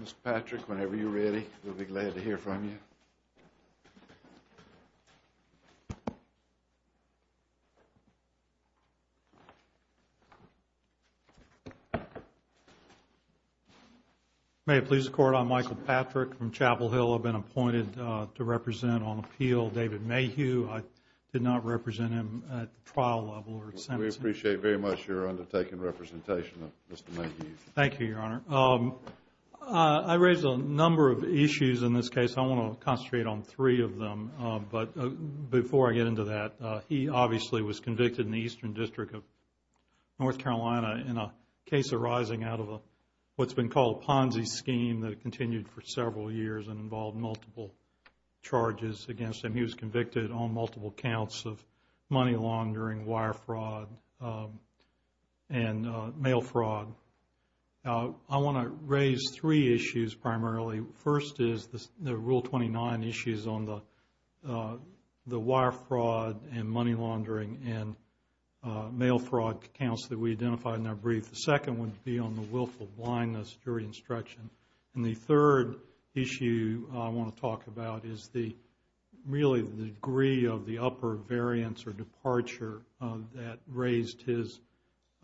Mr. Patrick, whenever you're ready, we'll be glad to hear from you. May it please the Court, I'm Michael Patrick from Chapel Hill. I've been appointed to represent on appeal David Mayhew. I did not represent him at the trial level or at sentencing. We appreciate very much your undertaking representation of Mr. Mayhew. David Mayhew Thank you, Your Honor. I raised a number of issues in this case. I want to concentrate on three of them, but before I get into that, he obviously was convicted in the Eastern District of North Carolina in a case arising out of what's been called a Ponzi scheme that continued for several years and involved multiple charges against him. He was convicted on multiple counts of money laundering, wire fraud, and mail fraud. I want to raise three issues primarily. First is the Rule 29 issues on the wire fraud and money laundering and mail fraud counts that we identified in our brief. The second would be on the willful blindness jury instruction. And the third issue I want to talk about is really the degree of the upper variance or departure that raised his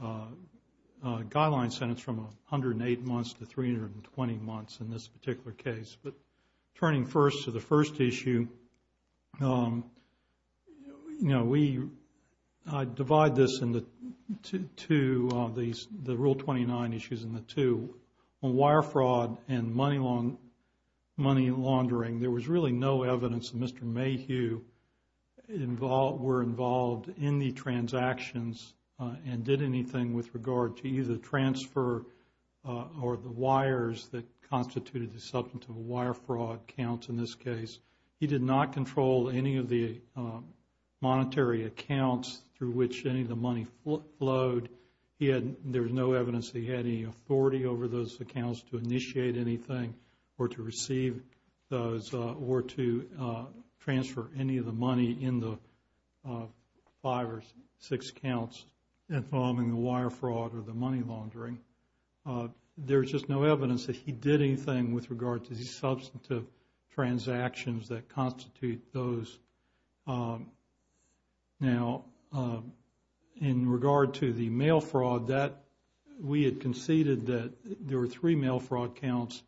guideline sentence from 108 months to 320 months in this particular case. But turning first to the first issue, I divide this into two, the Rule 29 issues in the two. On wire fraud and money laundering, there was really no evidence that Mr. Mayhew were involved in the transactions and did anything with regard to either transfer or the wires that constituted the substantive wire fraud counts in this case. He did not control any of the monetary accounts through which any of the money flowed. There was no evidence that he had any authority over those accounts to initiate anything or to receive those or to transfer any of the money in the five or six counts involving the wire fraud or the money laundering. There's just no evidence that he did anything with regard to the substantive transactions that constitute those. Now, in regard to the mail fraud, we had conceded that there were three mail fraud counts.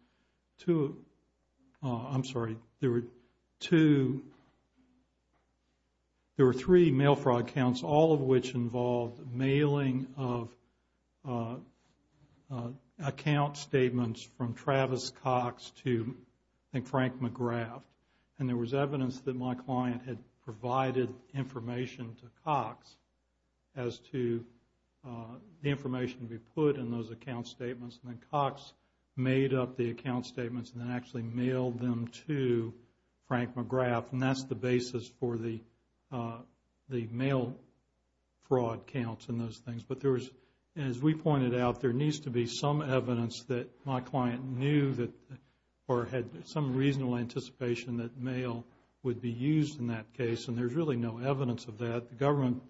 I'm sorry, there were three mail fraud counts, all of which involved mailing of account statements from Travis Cox to Frank McGrath. And there was evidence that my client had provided information to Cox as to the information to be put in those account statements. And then Cox made up the account statements and then actually mailed them to Frank McGrath. And that's the basis for the mail fraud counts and those things. But as we pointed out, there needs to be some evidence that my client knew or had some reasonable anticipation that mail would be used in that case. And there's really no evidence of that. The government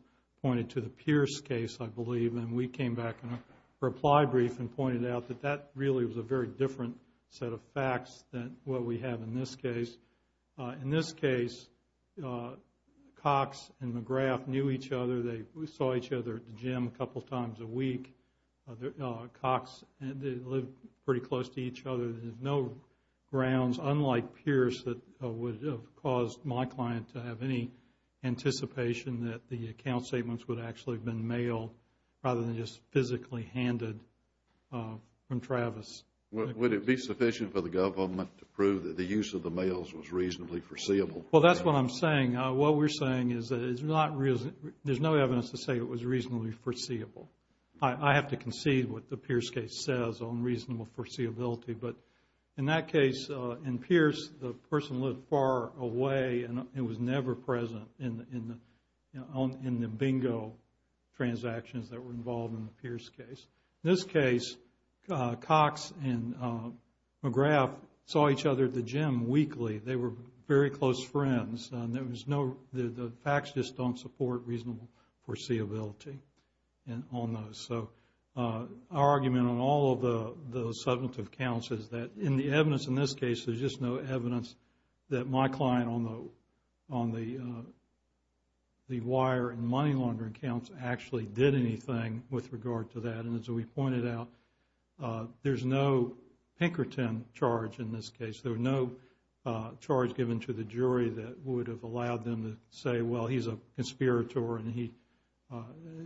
pointed to the Pierce case, I believe. And we came back in a reply brief and pointed out that that really was a very different set of facts than what we have in this case. In this case, Cox and McGrath knew each other. They saw each other at the gym a couple times a week. Cox lived pretty close to each other. There's no grounds, unlike Pierce, that would have caused my client to have any anticipation that the account statements would actually have been mailed rather than just physically handed from Travis. Would it be sufficient for the government to prove that the use of the mails was reasonably foreseeable? Well, that's what I'm saying. What we're saying is that there's no evidence to say it was reasonably foreseeable. I have to concede what the Pierce case says on reasonable foreseeability. But in that case, in Pierce, the person lived far away and was never present in the bingo transactions that were involved in the Pierce case. In this case, Cox and McGrath saw each other at the gym weekly. They were very close friends. The facts just don't support reasonable foreseeability on those. So our argument on all of the subjunctive counts is that in the evidence in this case, there's just no evidence that my client on the wire and money laundering counts actually did anything with regard to that. And as we pointed out, there's no Pinkerton charge in this case. There was no charge given to the jury that would have allowed them to say, well, he's a conspirator and he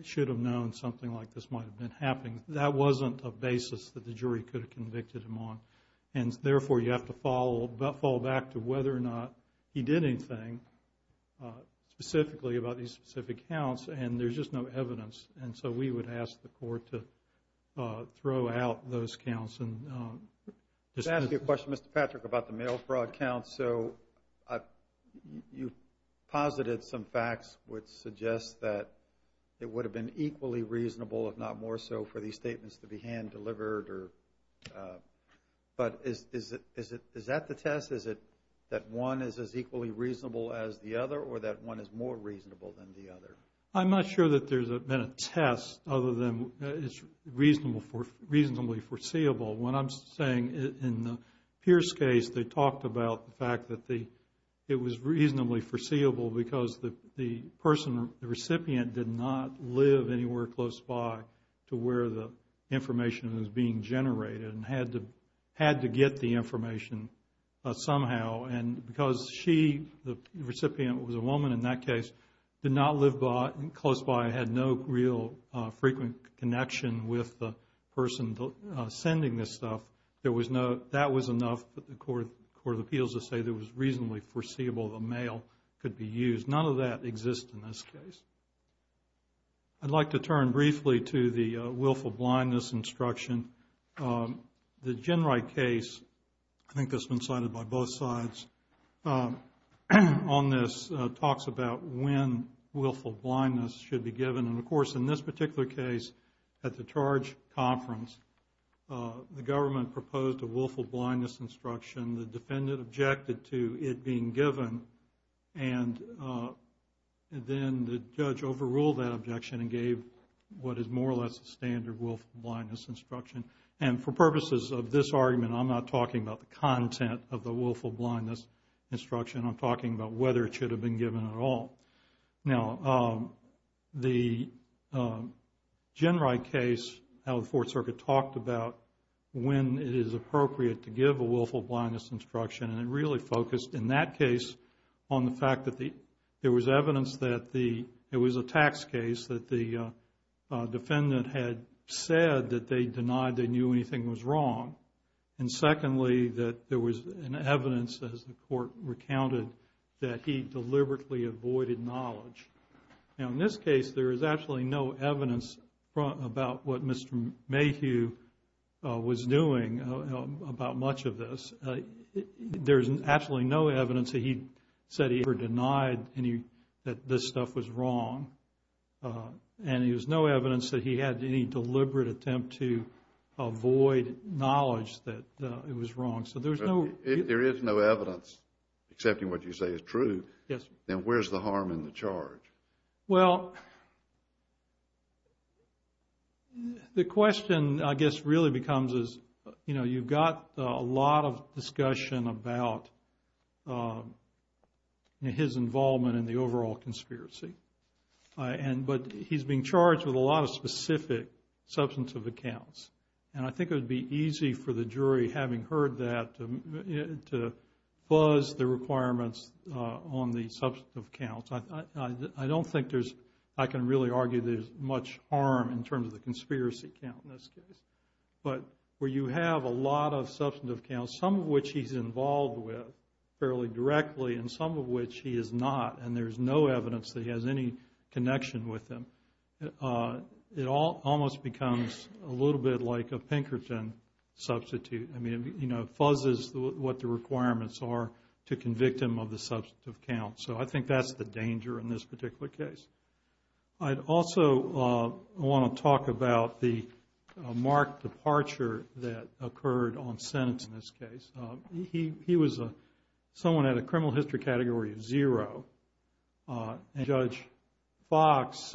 should have known something like this might have been happening. That wasn't a basis that the jury could have convicted him on. And, therefore, you have to fall back to whether or not he did anything specifically about these specific counts. And there's just no evidence. And so we would ask the court to throw out those counts. I have a question, Mr. Patrick, about the mail fraud counts. So you posited some facts which suggest that it would have been equally reasonable, if not more so, for these statements to be hand-delivered. But is that the test? Is it that one is as equally reasonable as the other or that one is more reasonable than the other? I'm not sure that there's been a test other than it's reasonably foreseeable. What I'm saying in the Pierce case, they talked about the fact that it was reasonably foreseeable because the recipient did not live anywhere close by to where the information was being generated and had to get the information somehow. And because she, the recipient, was a woman in that case, did not live close by, had no real frequent connection with the person sending this stuff, that was enough for the court of appeals to say it was reasonably foreseeable the mail could be used. None of that exists in this case. I'd like to turn briefly to the willful blindness instruction. The Ginwright case, I think that's been cited by both sides on this, talks about when willful blindness should be given. And, of course, in this particular case at the charge conference, the government proposed a willful blindness instruction. The defendant objected to it being given. And then the judge overruled that objection and gave what is more or less a standard willful blindness instruction. And for purposes of this argument, I'm not talking about the content of the willful blindness instruction. I'm talking about whether it should have been given at all. Now, the Ginwright case, how the Fourth Circuit talked about when it is appropriate to give a willful blindness instruction, and it really focused in that case on the fact that there was evidence that the, it was a tax case that the defendant had said that they denied they knew anything was wrong. And secondly, that there was an evidence, as the court recounted, that he deliberately avoided knowledge. Now, in this case, there is absolutely no evidence about what Mr. Mayhew was doing about much of this. There's absolutely no evidence that he said he ever denied any, that this stuff was wrong. And there's no evidence that he had any deliberate attempt to avoid knowledge that it was wrong. So there's no... If there is no evidence accepting what you say is true, then where's the harm in the charge? Well, the question, I guess, really becomes is, you know, you've got a lot of discussion about his involvement in the overall conspiracy. But he's being charged with a lot of specific substantive accounts. And I think it would be easy for the jury, having heard that, to fuzz the requirements on the substantive accounts. I don't think there's, I can really argue there's much harm in terms of the conspiracy count in this case. But where you have a lot of substantive accounts, some of which he's involved with fairly directly, and some of which he is not, and there's no evidence that he has any connection with them, it almost becomes a little bit like a Pinkerton substitute. I mean, you know, it fuzzes what the requirements are to convict him of the substantive accounts. So I think that's the danger in this particular case. I'd also want to talk about the marked departure that occurred on sentence in this case. He was someone at a criminal history category of zero. Judge Fox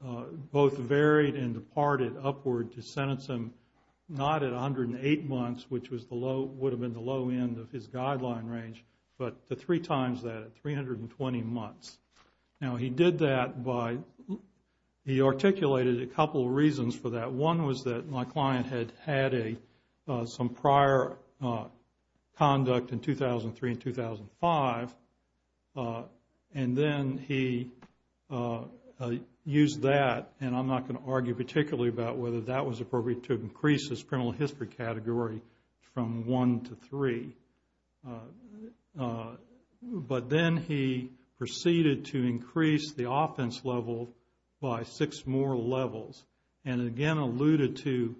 both varied and departed upward to sentence him, not at 108 months, which would have been the low end of his guideline range, but the three times that, at 320 months. Now, he did that by, he articulated a couple of reasons for that. One was that my client had had some prior conduct in 2003 and 2005, and then he used that, and I'm not going to argue particularly about whether that was appropriate to increase his criminal history category from one to three. But then he proceeded to increase the offense level by six more levels, and again alluded to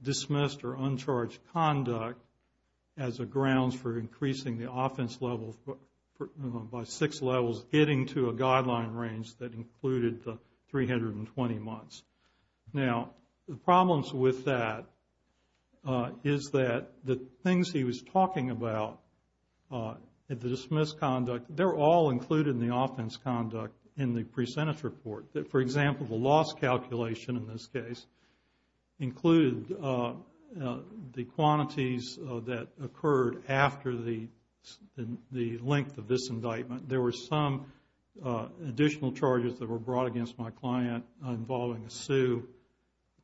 dismissed or uncharged conduct as a grounds for increasing the offense level by six levels, getting to a guideline range that included the 320 months. Now, the problems with that is that the things he was talking about, the dismissed conduct, they're all included in the offense conduct in the pre-sentence report. For example, the loss calculation in this case included the quantities that occurred after the length of this indictment. There were some additional charges that were brought against my client involving a sue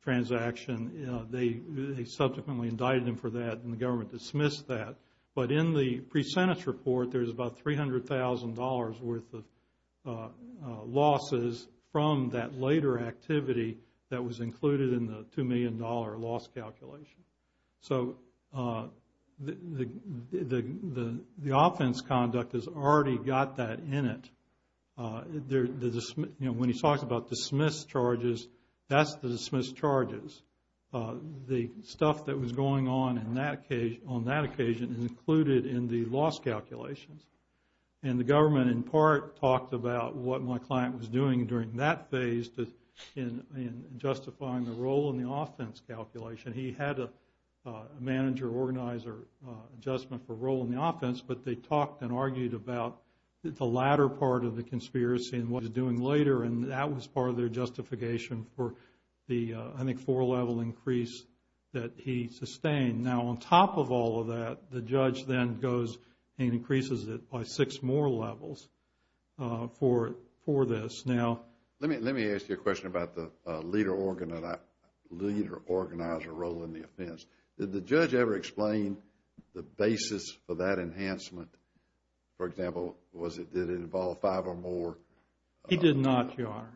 transaction. They subsequently indicted him for that, and the government dismissed that. But in the pre-sentence report, there's about $300,000 worth of losses from that later activity that was included in the $2 million loss calculation. So, the offense conduct has already got that in it. When he talks about dismissed charges, that's the dismissed charges. The stuff that was going on on that occasion is included in the loss calculations. And the government, in part, talked about what my client was doing during that phase in justifying the role in the offense calculation. But they talked and argued about the latter part of the conspiracy and what he was doing later, and that was part of their justification for the, I think, four-level increase that he sustained. Now, on top of all of that, the judge then goes and increases it by six more levels for this. Now, let me ask you a question about the leader-organizer role in the offense. Did the judge ever explain the basis for that enhancement? For example, did it involve five or more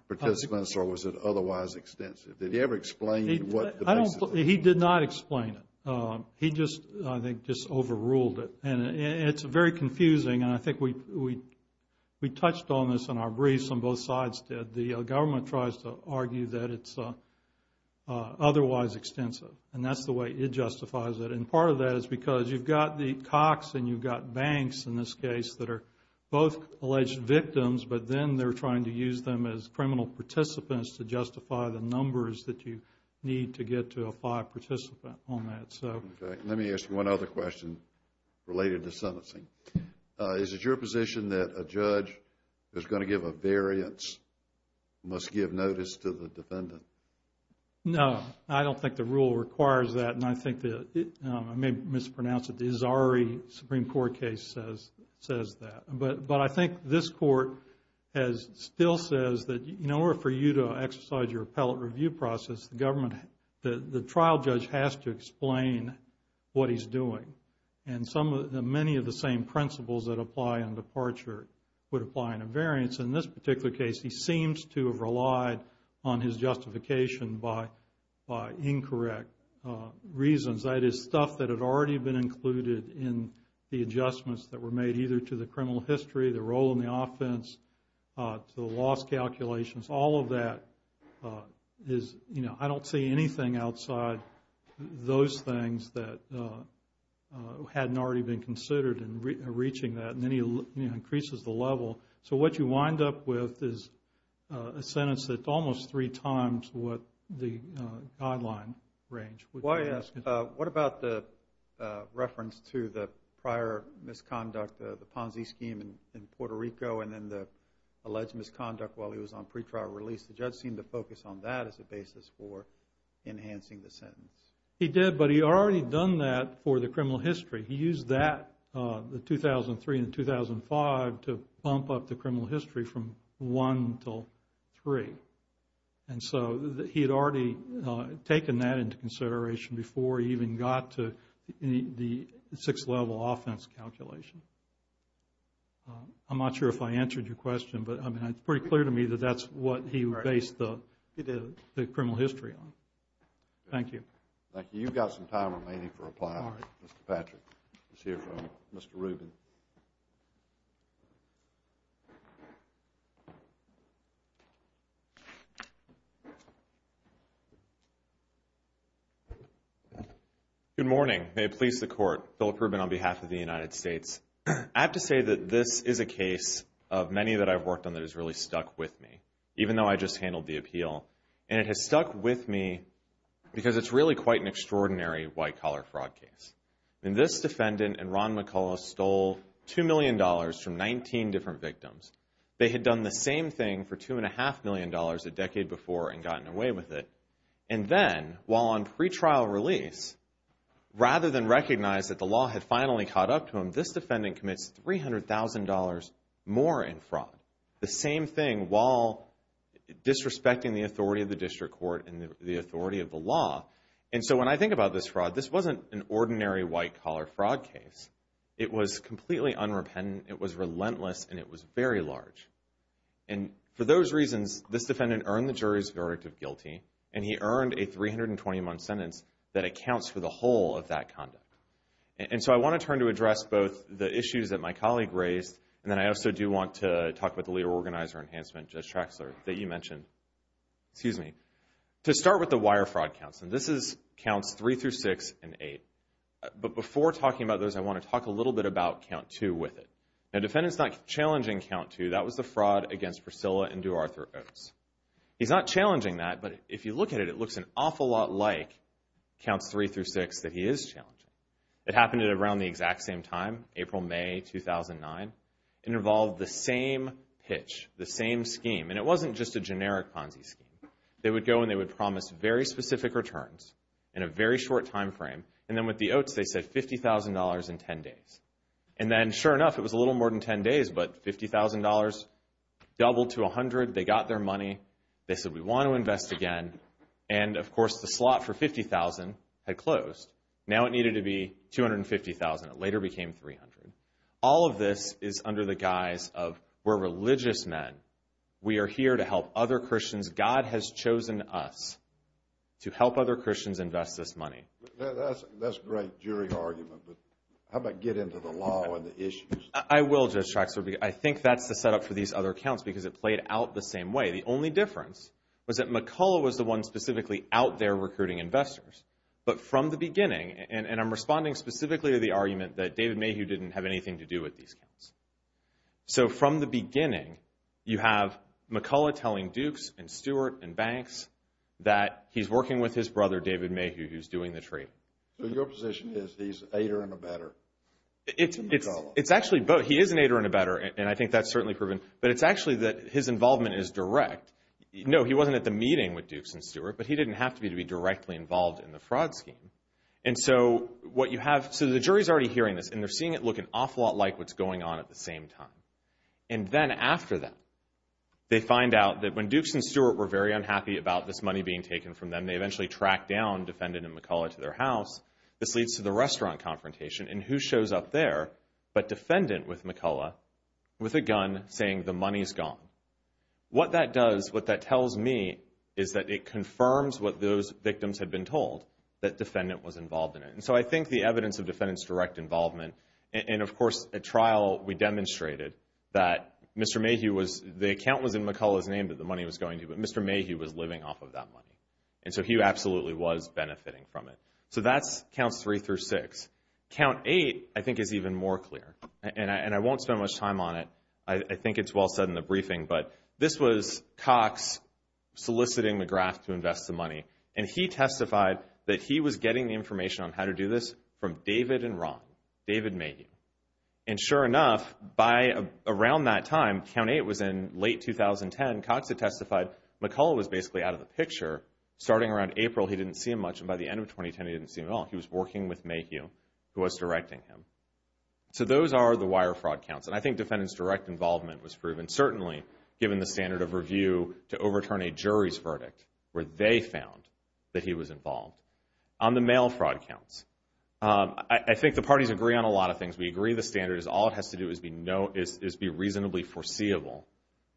participants, or was it otherwise extensive? Did he ever explain what the basis was? He did not explain it. He just, I think, just overruled it. And it's very confusing, and I think we touched on this in our briefs and both sides did. The government tries to argue that it's otherwise extensive, and that's the way it justifies it. And part of that is because you've got the COCs and you've got banks in this case that are both alleged victims, but then they're trying to use them as criminal participants to justify the numbers that you need to get to a five participant on that. Okay. Let me ask you one other question related to sentencing. Is it your position that a judge who's going to give a variance must give notice to the defendant? No. I don't think the rule requires that, and I think that I may mispronounce it. The Azari Supreme Court case says that. But I think this court still says that in order for you to exercise your appellate review process, the trial judge has to explain what he's doing. And many of the same principles that apply in departure would apply in a variance. In this particular case, he seems to have relied on his justification by incorrect reasons. That is, stuff that had already been included in the adjustments that were made either to the criminal history, the role in the offense, to the loss calculations. All of that is, you know, I don't see anything outside those things that hadn't already been considered in reaching that. And then he increases the level. So what you wind up with is a sentence that's almost three times what the guideline range. What about the reference to the prior misconduct, the Ponzi scheme in Puerto Rico, and then the alleged misconduct while he was on pretrial release? The judge seemed to focus on that as a basis for enhancing the sentence. He did, but he'd already done that for the criminal history. He used that, the 2003 and 2005, to bump up the criminal history from one to three. And so he had already taken that into consideration before he even got to the sixth level offense calculation. I'm not sure if I answered your question, but it's pretty clear to me that that's what he based the criminal history on. Thank you. Thank you. Okay, you've got some time remaining for reply. Mr. Patrick, let's hear from Mr. Rubin. Good morning. May it please the Court. Philip Rubin on behalf of the United States. I have to say that this is a case of many that I've worked on that has really stuck with me, even though I just handled the appeal. And it has stuck with me because it's really quite an extraordinary white-collar fraud case. This defendant and Ron McCullough stole $2 million from 19 different victims. They had done the same thing for $2.5 million a decade before and gotten away with it. And then, while on pretrial release, rather than recognize that the law had finally caught up to him, this defendant commits $300,000 more in fraud. The same thing while disrespecting the authority of the district court and the authority of the law. And so when I think about this fraud, this wasn't an ordinary white-collar fraud case. It was completely unrepentant, it was relentless, and it was very large. And for those reasons, this defendant earned the jury's verdict of guilty, and he earned a 320-month sentence that accounts for the whole of that conduct. And so I want to turn to address both the issues that my colleague raised, and then I also do want to talk about the Leader Organizer Enhancement, Judge Traxler, that you mentioned. To start with the wire fraud counts, and this is counts 3 through 6 and 8. But before talking about those, I want to talk a little bit about count 2 with it. The defendant's not challenging count 2. That was the fraud against Priscilla and DuArthur Oates. He's not challenging that, but if you look at it, it looks an awful lot like counts 3 through 6 that he is challenging. It happened around the exact same time, April, May 2009. It involved the same pitch, the same scheme, and it wasn't just a generic Ponzi scheme. They would go and they would promise very specific returns in a very short time frame, and then with the Oates they said $50,000 in 10 days. And then, sure enough, it was a little more than 10 days, but $50,000 doubled to $100,000, they got their money, they said we want to invest again, and, of course, the slot for $50,000 had closed. Now it needed to be $250,000. It later became $300,000. All of this is under the guise of we're religious men. We are here to help other Christians. God has chosen us to help other Christians invest this money. That's a great jury argument, but how about get into the law and the issues? I will, Judge Traxler. I think that's the setup for these other counts because it played out the same way. The only difference was that McCullough was the one specifically out there recruiting investors, but from the beginning, and I'm responding specifically to the argument that David Mayhew didn't have anything to do with these counts. So from the beginning, you have McCullough telling Dukes and Stewart and Banks that he's working with his brother, David Mayhew, who's doing the trading. So your position is he's an aider and abetter to McCullough? It's actually both. He is an aider and abetter, and I think that's certainly proven, but it's actually that his involvement is direct. No, he wasn't at the meeting with Dukes and Stewart, but he didn't have to be to be directly involved in the fraud scheme. And so what you have, so the jury's already hearing this, and they're seeing it look an awful lot like what's going on at the same time. And then after that, they find out that when Dukes and Stewart were very unhappy about this money being taken from them, they eventually track down Defendant and McCullough to their house. This leads to the restaurant confrontation, and who shows up there but Defendant with McCullough with a gun saying the money's gone? What that does, what that tells me, is that it confirms what those victims had been told, that Defendant was involved in it. And so I think the evidence of Defendant's direct involvement, and of course at trial we demonstrated that Mr. Mayhew was, the account was in McCullough's name that the money was going to, but Mr. Mayhew was living off of that money. And so he absolutely was benefiting from it. So that's Counts 3 through 6. Count 8, I think, is even more clear, and I won't spend much time on it. I think it's well said in the briefing, but this was Cox soliciting McGrath to invest the money, and he testified that he was getting the information on how to do this from David and Ron, David Mayhew. And sure enough, around that time, Count 8 was in late 2010, Cox had testified McCullough was basically out of the picture. Starting around April, he didn't see him much, and by the end of 2010, he didn't see him at all. He was working with Mayhew, who was directing him. So those are the wire fraud counts. And I think defendant's direct involvement was proven, certainly given the standard of review to overturn a jury's verdict where they found that he was involved. On the mail fraud counts, I think the parties agree on a lot of things. We agree the standard is all it has to do is be reasonably foreseeable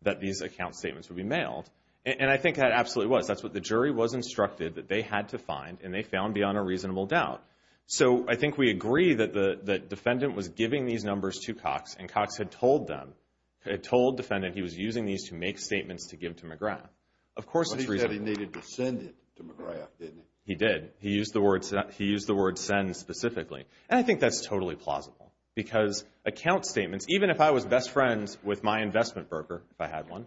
that these account statements would be mailed, and I think that absolutely was. That's what the jury was instructed that they had to find, and they found beyond a reasonable doubt. So I think we agree that the defendant was giving these numbers to Cox, and Cox had told defendant he was using these to make statements to give to McGrath. Of course it's reasonable. But he said he needed to send it to McGrath, didn't he? He did. He used the word send specifically, and I think that's totally plausible because account statements, even if I was best friends with my investment broker, if I had one,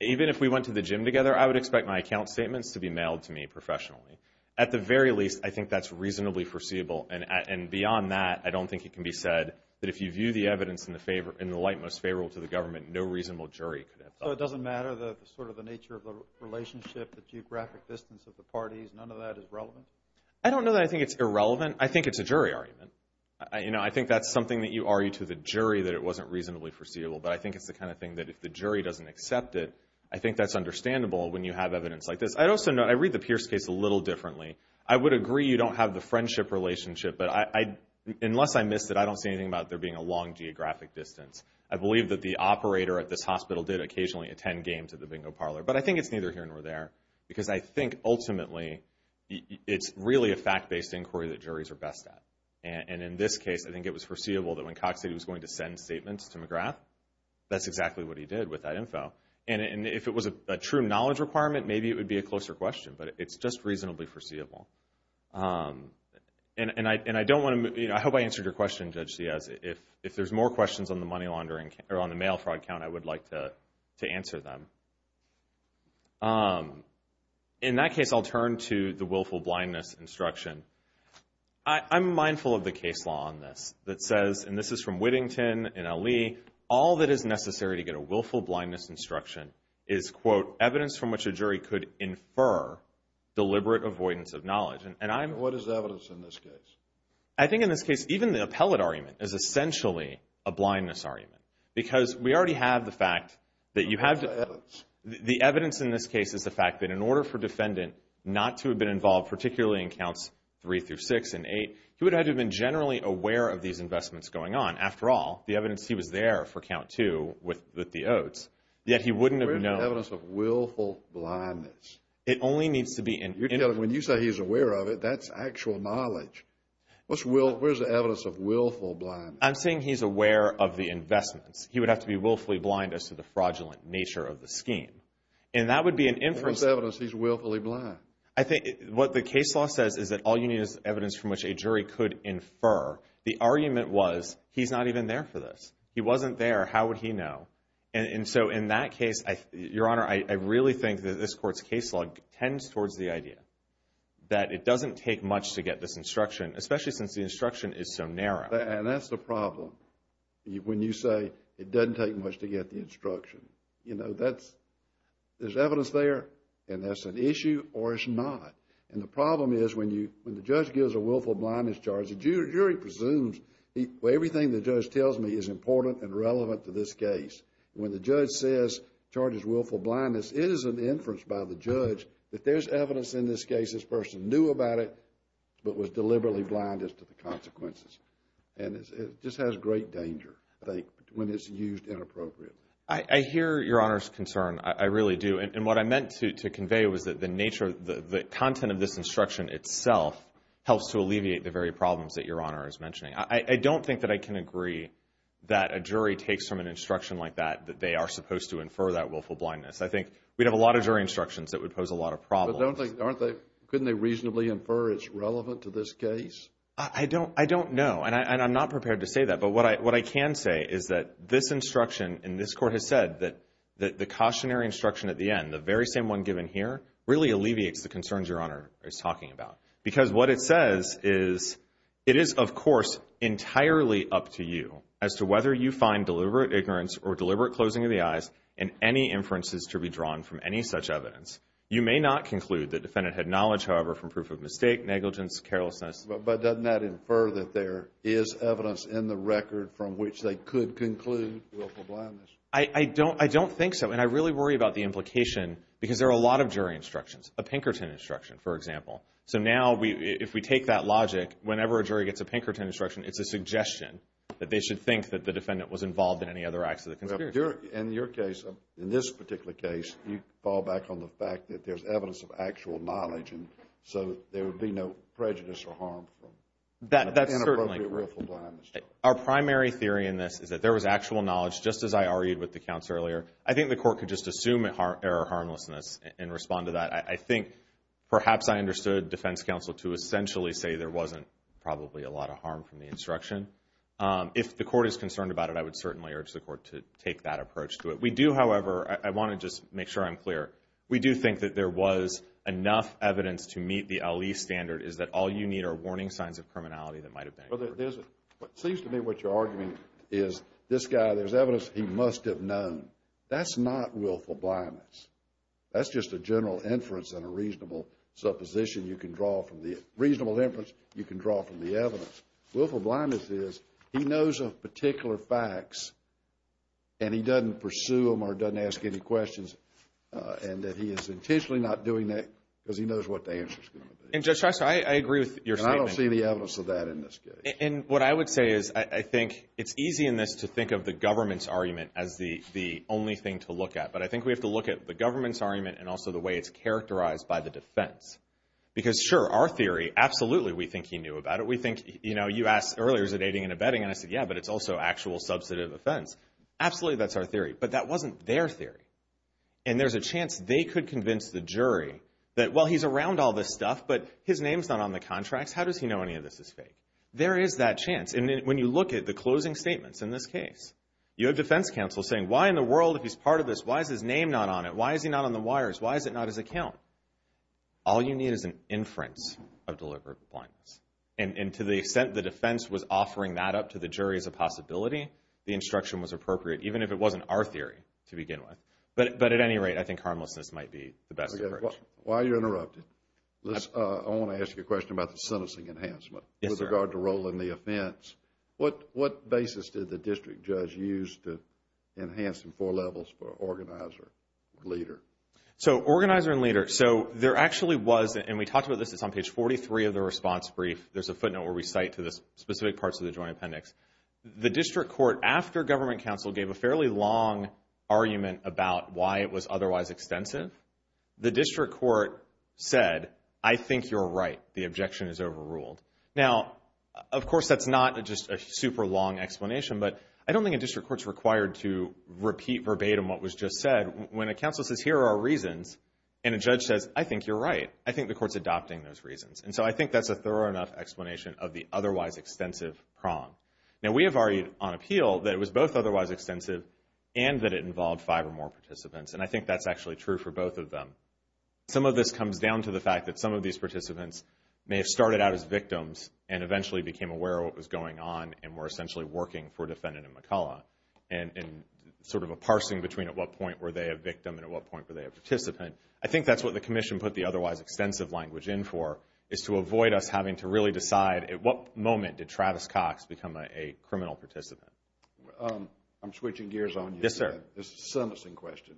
even if we went to the gym together, I would expect my account statements to be mailed to me professionally. At the very least, I think that's reasonably foreseeable, and beyond that, I don't think it can be said that if you view the evidence in the light most favorable to the government, no reasonable jury could have thought of it. So it doesn't matter the sort of the nature of the relationship, the geographic distance of the parties, none of that is relevant? I don't know that I think it's irrelevant. I think it's a jury argument. I think that's something that you argue to the jury that it wasn't reasonably foreseeable, but I think it's the kind of thing that if the jury doesn't accept it, I think that's understandable when you have evidence like this. I'd also note, I read the Pierce case a little differently. I would agree you don't have the friendship relationship, but unless I missed it, I don't see anything about there being a long geographic distance. I believe that the operator at this hospital did occasionally attend games at the bingo parlor, but I think it's neither here nor there, because I think ultimately it's really a fact-based inquiry that juries are best at. And in this case, I think it was foreseeable that when Cox said he was going to send statements to McGrath, that's exactly what he did with that info. And if it was a true knowledge requirement, maybe it would be a closer question, but it's just reasonably foreseeable. And I hope I answered your question, Judge Ciaz. If there's more questions on the mail fraud count, I would like to answer them. In that case, I'll turn to the willful blindness instruction. I'm mindful of the case law on this that says, and this is from Whittington and Ali, all that is necessary to get a willful blindness instruction is, quote, deliberate avoidance of knowledge. And I'm... What is the evidence in this case? I think in this case, even the appellate argument is essentially a blindness argument, because we already have the fact that you have to... What's the evidence? The evidence in this case is the fact that in order for a defendant not to have been involved, particularly in counts three through six and eight, he would have had to have been generally aware of these investments going on. After all, the evidence, he was there for count two with the oaths. Yet he wouldn't have known... Where is the evidence of willful blindness? It only needs to be... When you say he's aware of it, that's actual knowledge. Where's the evidence of willful blindness? I'm saying he's aware of the investments. He would have to be willfully blind as to the fraudulent nature of the scheme. And that would be an inference... Where's the evidence he's willfully blind? I think what the case law says is that all you need is evidence from which a jury could infer. The argument was, he's not even there for this. He wasn't there. How would he know? And so in that case, Your Honor, I really think that this court's case law tends towards the idea that it doesn't take much to get this instruction, especially since the instruction is so narrow. And that's the problem when you say it doesn't take much to get the instruction. You know, there's evidence there, and that's an issue or it's not. And the problem is when the judge gives a willful blindness charge, the jury presumes everything the judge tells me is important and relevant to this case. When the judge says charges willful blindness, it is an inference by the judge that there's evidence in this case this person knew about it but was deliberately blind as to the consequences. And it just has great danger, I think, when it's used inappropriately. I hear Your Honor's concern. I really do. And what I meant to convey was that the nature of the content of this instruction itself helps to alleviate the very problems that Your Honor is mentioning. I don't think that I can agree that a jury takes from an instruction like that that they are supposed to infer that willful blindness. I think we'd have a lot of jury instructions that would pose a lot of problems. But don't they, aren't they, couldn't they reasonably infer it's relevant to this case? I don't know, and I'm not prepared to say that. But what I can say is that this instruction in this court has said that the cautionary instruction at the end, the very same one given here, really alleviates the concerns Your Honor is talking about because what it says is it is, of course, entirely up to you as to whether you find deliberate ignorance or deliberate closing of the eyes in any inferences to be drawn from any such evidence. You may not conclude the defendant had knowledge, however, from proof of mistake, negligence, carelessness. But doesn't that infer that there is evidence in the record from which they could conclude willful blindness? I don't think so, and I really worry about the implication because there are a lot of jury instructions, a Pinkerton instruction, for example. So now if we take that logic, whenever a jury gets a Pinkerton instruction, it's a suggestion that they should think that the defendant was involved in any other acts of the conspiracy. In your case, in this particular case, you fall back on the fact that there's evidence of actual knowledge and so there would be no prejudice or harm from inappropriate willful blindness. Our primary theory in this is that there was actual knowledge, just as I argued with the counselor earlier. I think the court could just assume error or harmlessness and respond to that. I think perhaps I understood defense counsel to essentially say there wasn't probably a lot of harm from the instruction. If the court is concerned about it, I would certainly urge the court to take that approach to it. We do, however, I want to just make sure I'm clear. We do think that there was enough evidence to meet the LE standard, is that all you need are warning signs of criminality that might have been incurred. What seems to me what you're arguing is this guy, there's evidence he must have known. That's not willful blindness. That's just a general inference and a reasonable supposition you can draw from the reasonable inference you can draw from the evidence. Willful blindness is he knows of particular facts and he doesn't pursue them or doesn't ask any questions and that he is intentionally not doing that because he knows what the answer is going to be. And, Judge Shrestha, I agree with your statement. And I don't see the evidence of that in this case. And what I would say is I think it's easy in this to think of the government's argument as the only thing to look at, but I think we have to look at the government's argument and also the way it's characterized by the defense. Because, sure, our theory, absolutely we think he knew about it. We think, you know, you asked earlier, is it aiding and abetting? And I said, yeah, but it's also actual substantive offense. Absolutely that's our theory, but that wasn't their theory. And there's a chance they could convince the jury that, well, he's around all this stuff, but his name's not on the contracts. How does he know any of this is fake? There is that chance. And when you look at the closing statements in this case, you have defense counsel saying, why in the world, if he's part of this, why is his name not on it? Why is he not on the wires? Why is it not his account? All you need is an inference of deliberate blindness. And to the extent the defense was offering that up to the jury as a possibility, the instruction was appropriate, even if it wasn't our theory to begin with. But at any rate, I think harmlessness might be the best approach. While you're interrupted, I want to ask you a question about the sentencing enhancement with regard to rolling the offense. What basis did the district judge use to enhance in four levels for organizer and leader? So organizer and leader, so there actually was, and we talked about this, it's on page 43 of the response brief. There's a footnote where we cite to the specific parts of the Joint Appendix. The district court, after government counsel gave a fairly long argument about why it was otherwise extensive, the district court said, I think you're right, the objection is overruled. Now, of course, that's not just a super long explanation, but I don't think a district court's required to repeat verbatim what was just said. When a counsel says, here are our reasons, and a judge says, I think you're right, I think the court's adopting those reasons. And so I think that's a thorough enough explanation of the otherwise extensive prong. Now, we have argued on appeal that it was both otherwise extensive and that it involved five or more participants, and I think that's actually true for both of them. Some of this comes down to the fact that some of these participants may have started out as victims and eventually became aware of what was going on and were essentially working for Defendant McCullough and sort of a parsing between at what point were they a victim and at what point were they a participant. I think that's what the Commission put the otherwise extensive language in for, is to avoid us having to really decide at what moment did Travis Cox become a criminal participant. I'm switching gears on you. Yes, sir. This is a sentencing question.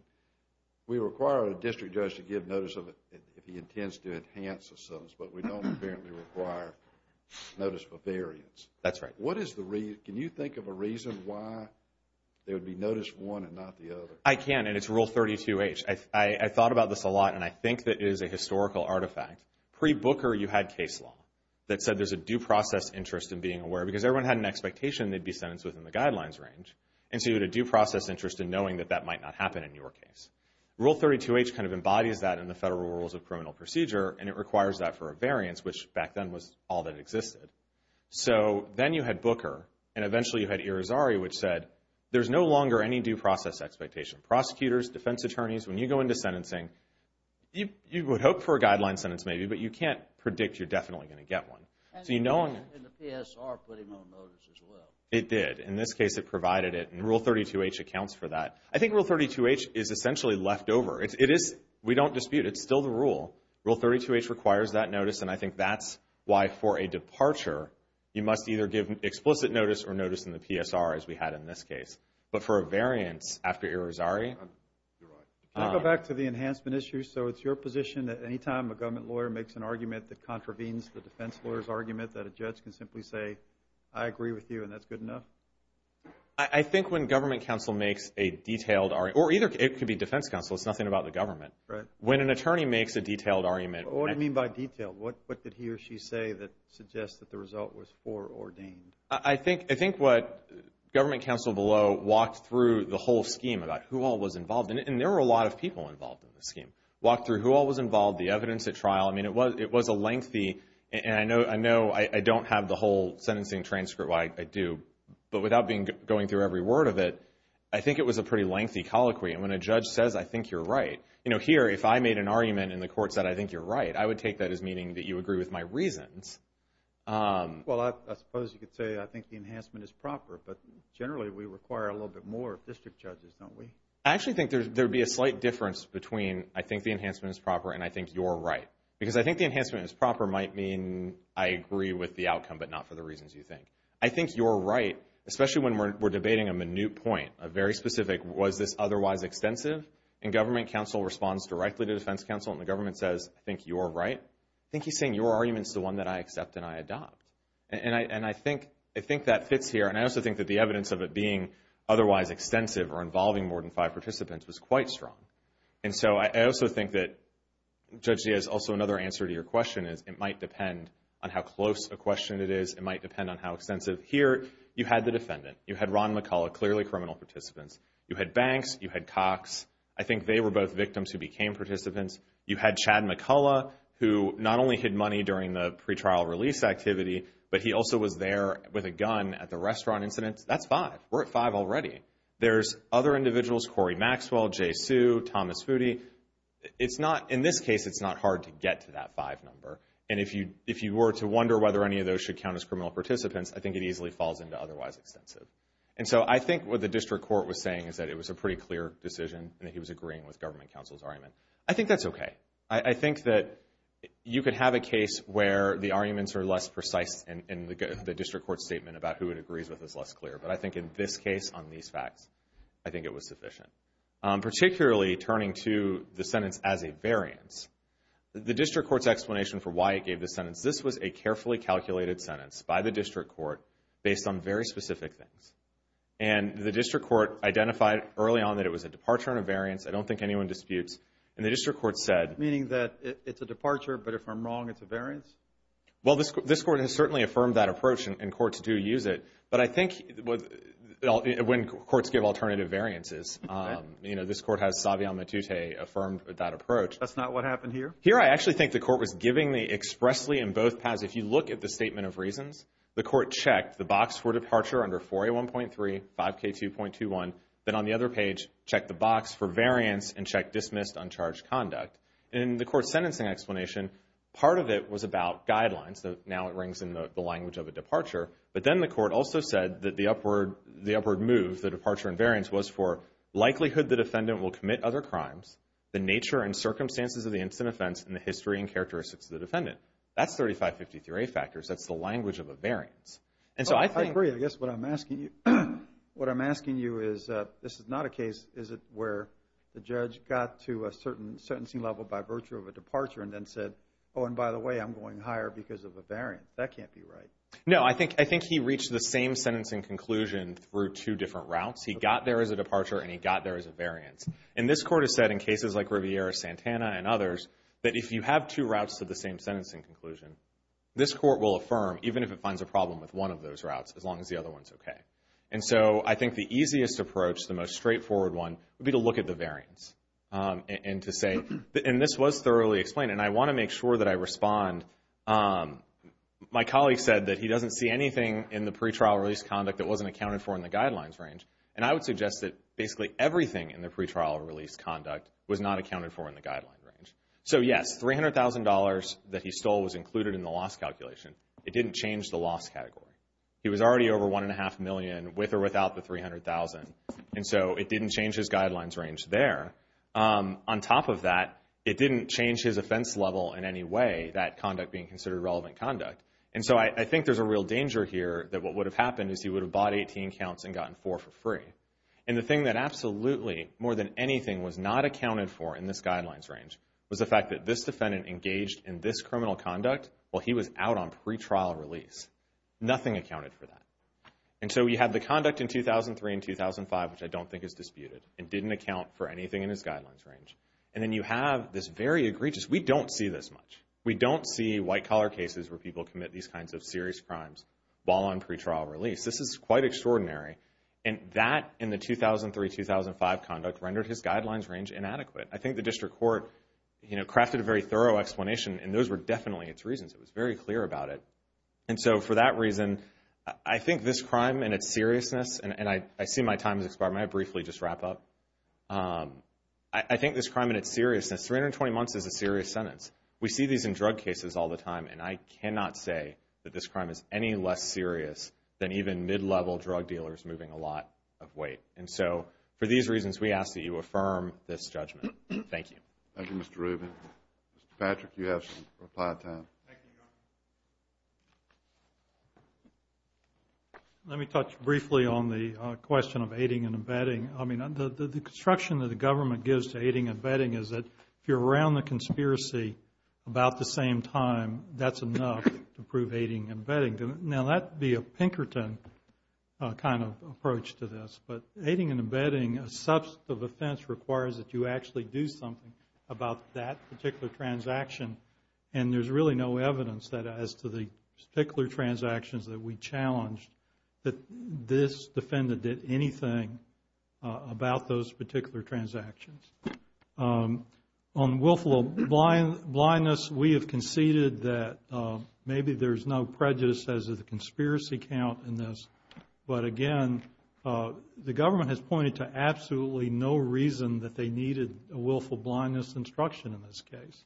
We require a district judge to give notice if he intends to enhance a sentence, but we don't apparently require notice for variance. That's right. Can you think of a reason why there would be notice for one and not the other? I can, and it's Rule 32H. I thought about this a lot, and I think that it is a historical artifact. Pre-Booker, you had case law that said there's a due process interest in being aware because everyone had an expectation they'd be sentenced within the guidelines range. And so you had a due process interest in knowing that that might not happen in your case. Rule 32H kind of embodies that in the Federal Rules of Criminal Procedure, and it requires that for a variance, which back then was all that existed. So then you had Booker, and eventually you had Irizarry, which said there's no longer any due process expectation. Prosecutors, defense attorneys, when you go into sentencing, you would hope for a guideline sentence maybe, but you can't predict you're definitely going to get one. And the PSR put him on notice as well. It did. In this case, it provided it, and Rule 32H accounts for that. I think Rule 32H is essentially left over. We don't dispute it. It's still the rule. Rule 32H requires that notice, and I think that's why for a departure, you must either give explicit notice or notice in the PSR, as we had in this case. But for a variance after Irizarry? Can I go back to the enhancement issue? So it's your position that any time a government lawyer makes an argument that contravenes the defense lawyer's argument, that a judge can simply say, I agree with you and that's good enough? I think when government counsel makes a detailed argument, or either it could be defense counsel. It's nothing about the government. When an attorney makes a detailed argument. What do you mean by detailed? What did he or she say that suggests that the result was foreordained? I think what government counsel below walked through the whole scheme about who all was involved in it, and there were a lot of people involved in the scheme, walked through who all was involved, the evidence at trial. I mean, it was a lengthy, and I know I don't have the whole sentencing transcript. Well, I do. But without going through every word of it, I think it was a pretty lengthy colloquy. And when a judge says, I think you're right. You know, here, if I made an argument and the court said, I think you're right, I would take that as meaning that you agree with my reasons. Well, I suppose you could say, I think the enhancement is proper. But generally, we require a little bit more of district judges, don't we? I actually think there would be a slight difference between I think the enhancement is proper and I think you're right. Because I think the enhancement is proper might mean I agree with the outcome, but not for the reasons you think. I think you're right, especially when we're debating a minute point, a very specific, was this otherwise extensive? And government counsel responds directly to defense counsel, and the government says, I think you're right. I think he's saying your argument is the one that I accept and I adopt. And I think that fits here. And I also think that the evidence of it being otherwise extensive or involving more than five participants was quite strong. And so I also think that, Judge Diaz, also another answer to your question is, it might depend on how close a question it is. It might depend on how extensive. Here, you had the defendant. You had Ron McCullough, clearly criminal participants. You had Banks. You had Cox. I think they were both victims who became participants. You had Chad McCullough, who not only hid money during the pretrial release activity, but he also was there with a gun at the restaurant incident. That's five. We're at five already. There's other individuals, Corey Maxwell, Jay Sue, Thomas Foody. In this case, it's not hard to get to that five number. And if you were to wonder whether any of those should count as criminal participants, I think it easily falls into otherwise extensive. And so I think what the district court was saying is that it was a pretty clear decision and that he was agreeing with government counsel's argument. I think that's okay. I think that you could have a case where the arguments are less precise and the district court statement about who it agrees with is less clear. But I think in this case, on these facts, I think it was sufficient. Particularly turning to the sentence as a variance, the district court's explanation for why it gave this sentence, this was a carefully calculated sentence by the district court based on very specific things. And the district court identified early on that it was a departure and a variance. I don't think anyone disputes. And the district court said. Meaning that it's a departure, but if I'm wrong, it's a variance? Well, this court has certainly affirmed that approach, and courts do use it. But I think when courts give alternative variances, this court has Savion Matute affirmed that approach. That's not what happened here? Here I actually think the court was giving the expressly in both paths. If you look at the statement of reasons, the court checked the box for departure under 4A1.3, 5K2.21, then on the other page, checked the box for variance and checked dismissed, uncharged conduct. In the court's sentencing explanation, part of it was about guidelines. Now it rings in the language of a departure. But then the court also said that the upward move, the departure and variance, was for likelihood the defendant will commit other crimes, the nature and circumstances of the incident offense, and the history and characteristics of the defendant. That's 3553A factors. That's the language of a variance. I agree. I guess what I'm asking you is this is not a case, is it where the judge got to a certain sentencing level by virtue of a departure and then said, oh, and by the way, I'm going higher because of a variance. That can't be right. No, I think he reached the same sentencing conclusion through two different routes. He got there as a departure, and he got there as a variance. And this court has said in cases like Riviera-Santana and others that if you have two routes to the same sentencing conclusion, this court will affirm even if it finds a problem with one of those routes, as long as the other one is okay. And so I think the easiest approach, the most straightforward one, would be to look at the variance and to say, and this was thoroughly explained, and I want to make sure that I respond. My colleague said that he doesn't see anything in the pretrial release conduct that wasn't accounted for in the guidelines range, and I would suggest that basically everything in the pretrial release conduct was not accounted for in the guidelines range. So, yes, $300,000 that he stole was included in the loss calculation. It didn't change the loss category. He was already over $1.5 million with or without the $300,000, and so it didn't change his guidelines range there. On top of that, it didn't change his offense level in any way, that conduct being considered relevant conduct. And so I think there's a real danger here that what would have happened is he would have bought 18 counts and gotten four for free. And the thing that absolutely, more than anything, was not accounted for in this guidelines range was the fact that this defendant engaged in this criminal conduct while he was out on pretrial release. Nothing accounted for that. And so you have the conduct in 2003 and 2005, which I don't think is disputed, and didn't account for anything in his guidelines range. And then you have this very egregious, we don't see this much. We don't see white-collar cases where people commit these kinds of serious crimes while on pretrial release. This is quite extraordinary. And that, in the 2003-2005 conduct, rendered his guidelines range inadequate. I think the district court crafted a very thorough explanation, and those were definitely its reasons. It was very clear about it. And so for that reason, I think this crime and its seriousness, and I see my time has expired, may I briefly just wrap up? I think this crime and its seriousness, 320 months is a serious sentence. We see these in drug cases all the time, and I cannot say that this crime is any less serious than even mid-level drug dealers moving a lot of weight. And so for these reasons, we ask that you affirm this judgment. Thank you. Thank you, Mr. Rubin. Mr. Patrick, you have some reply time. Thank you, Governor. Let me touch briefly on the question of aiding and abetting. I mean, the construction that the government gives to aiding and abetting is that if you're around the conspiracy about the same time, that's enough to prove aiding and abetting. Now, that would be a Pinkerton kind of approach to this, but aiding and abetting, a substantive offense requires that you actually do something about that particular transaction, and there's really no evidence as to the particular transactions that we challenged that this defendant did anything about those particular transactions. On willful blindness, we have conceded that maybe there's no prejudice as to the conspiracy count in this, but again, the government has pointed to absolutely no reason that they needed a willful blindness instruction in this case.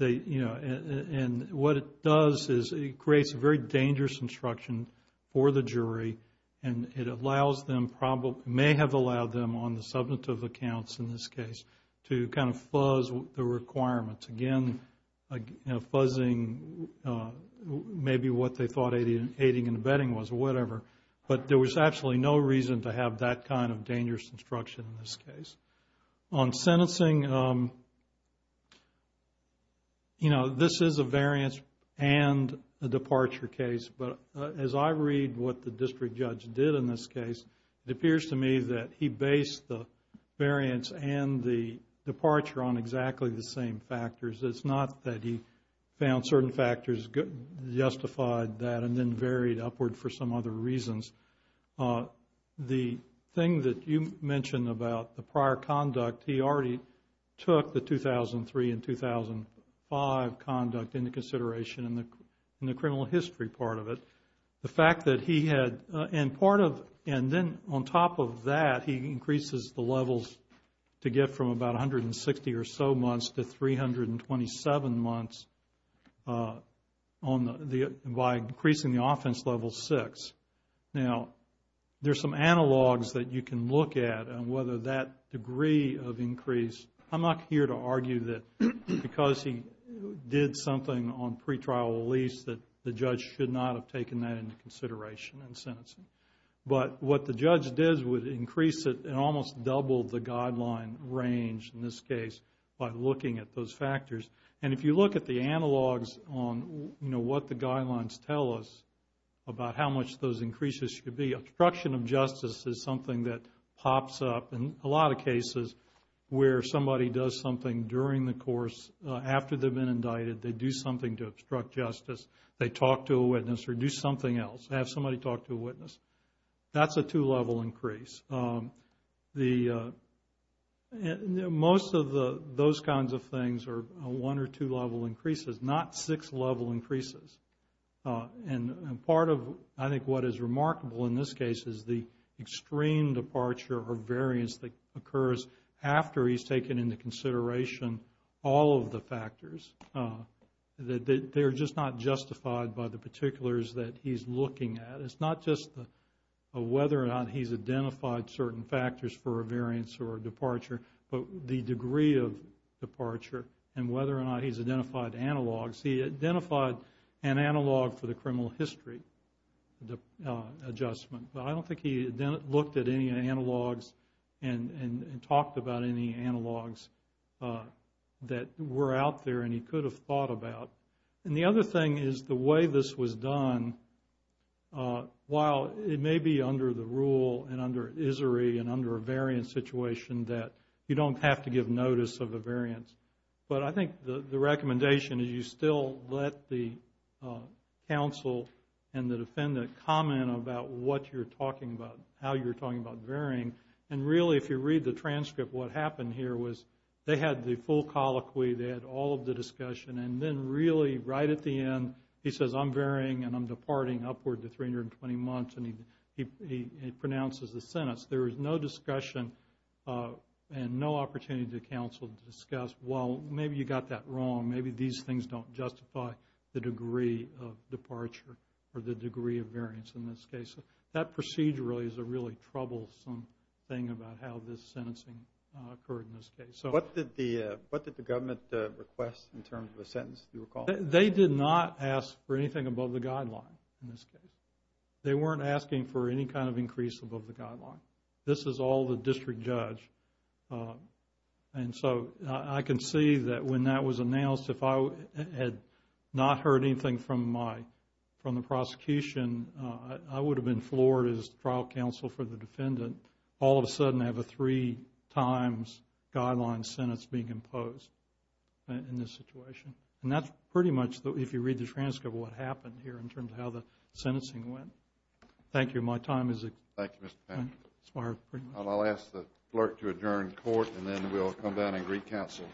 And what it does is it creates a very dangerous instruction for the jury, and it may have allowed them on the substantive accounts in this case to kind of fuzz the requirements. Again, fuzzing maybe what they thought aiding and abetting was, or whatever, but there was absolutely no reason to have that kind of dangerous instruction in this case. On sentencing, you know, this is a variance and a departure case, but as I read what the district judge did in this case, it appears to me that he based the variance and the departure on exactly the same factors. It's not that he found certain factors justified that and then varied upward for some other reasons. The thing that you mentioned about the prior conduct, he already took the 2003 and 2005 conduct into consideration in the criminal history part of it. The fact that he had, and part of, and then on top of that, he increases the levels to get from about 160 or so months to 327 months by increasing the offense level six. Now, there's some analogs that you can look at on whether that degree of increase. I'm not here to argue that because he did something on pretrial release that the judge should not have taken that into consideration in sentencing. But what the judge did was increase it and almost double the guideline range in this case by looking at those factors. And if you look at the analogs on what the guidelines tell us about how much those increases should be, obstruction of justice is something that pops up in a lot of cases where somebody does something during the course after they've been indicted. They do something to obstruct justice. They talk to a witness or do something else. They have somebody talk to a witness. That's a two-level increase. Most of those kinds of things are one- or two-level increases, not six-level increases. And part of, I think, what is remarkable in this case is the extreme departure or variance that occurs after he's taken into consideration all of the factors. They're just not justified by the particulars that he's looking at. It's not just whether or not he's identified certain factors for a variance or a departure, but the degree of departure and whether or not he's identified analogs. He identified an analog for the criminal history adjustment, but I don't think he looked at any analogs and talked about any analogs that were out there and he could have thought about. And the other thing is the way this was done, while it may be under the rule and under ISRI and under a variance situation that you don't have to give notice of a variance, but I think the recommendation is you still let the counsel and the defendant comment about what you're talking about, how you're talking about varying. And really, if you read the transcript, what happened here was they had the full colloquy, they had all of the discussion, and then really right at the end he says, I'm varying and I'm departing upward to 320 months, and he pronounces the sentence. There was no discussion and no opportunity to counsel to discuss, well, maybe you got that wrong, maybe these things don't justify the degree of departure or the degree of variance in this case. That procedurally is a really troublesome thing about how this sentencing occurred in this case. What did the government request in terms of a sentence, do you recall? They did not ask for anything above the guideline in this case. They weren't asking for any kind of increase above the guideline. This is all the district judge. And so I can see that when that was announced, if I had not heard anything from the prosecution, I would have been floored as trial counsel for the defendant. All of a sudden I have a three-times guideline sentence being imposed in this situation. And that's pretty much, if you read the transcript, what happened here in terms of how the sentencing went. Thank you. My time has expired. I'll ask the clerk to adjourn court, and then we'll come down and re-counsel.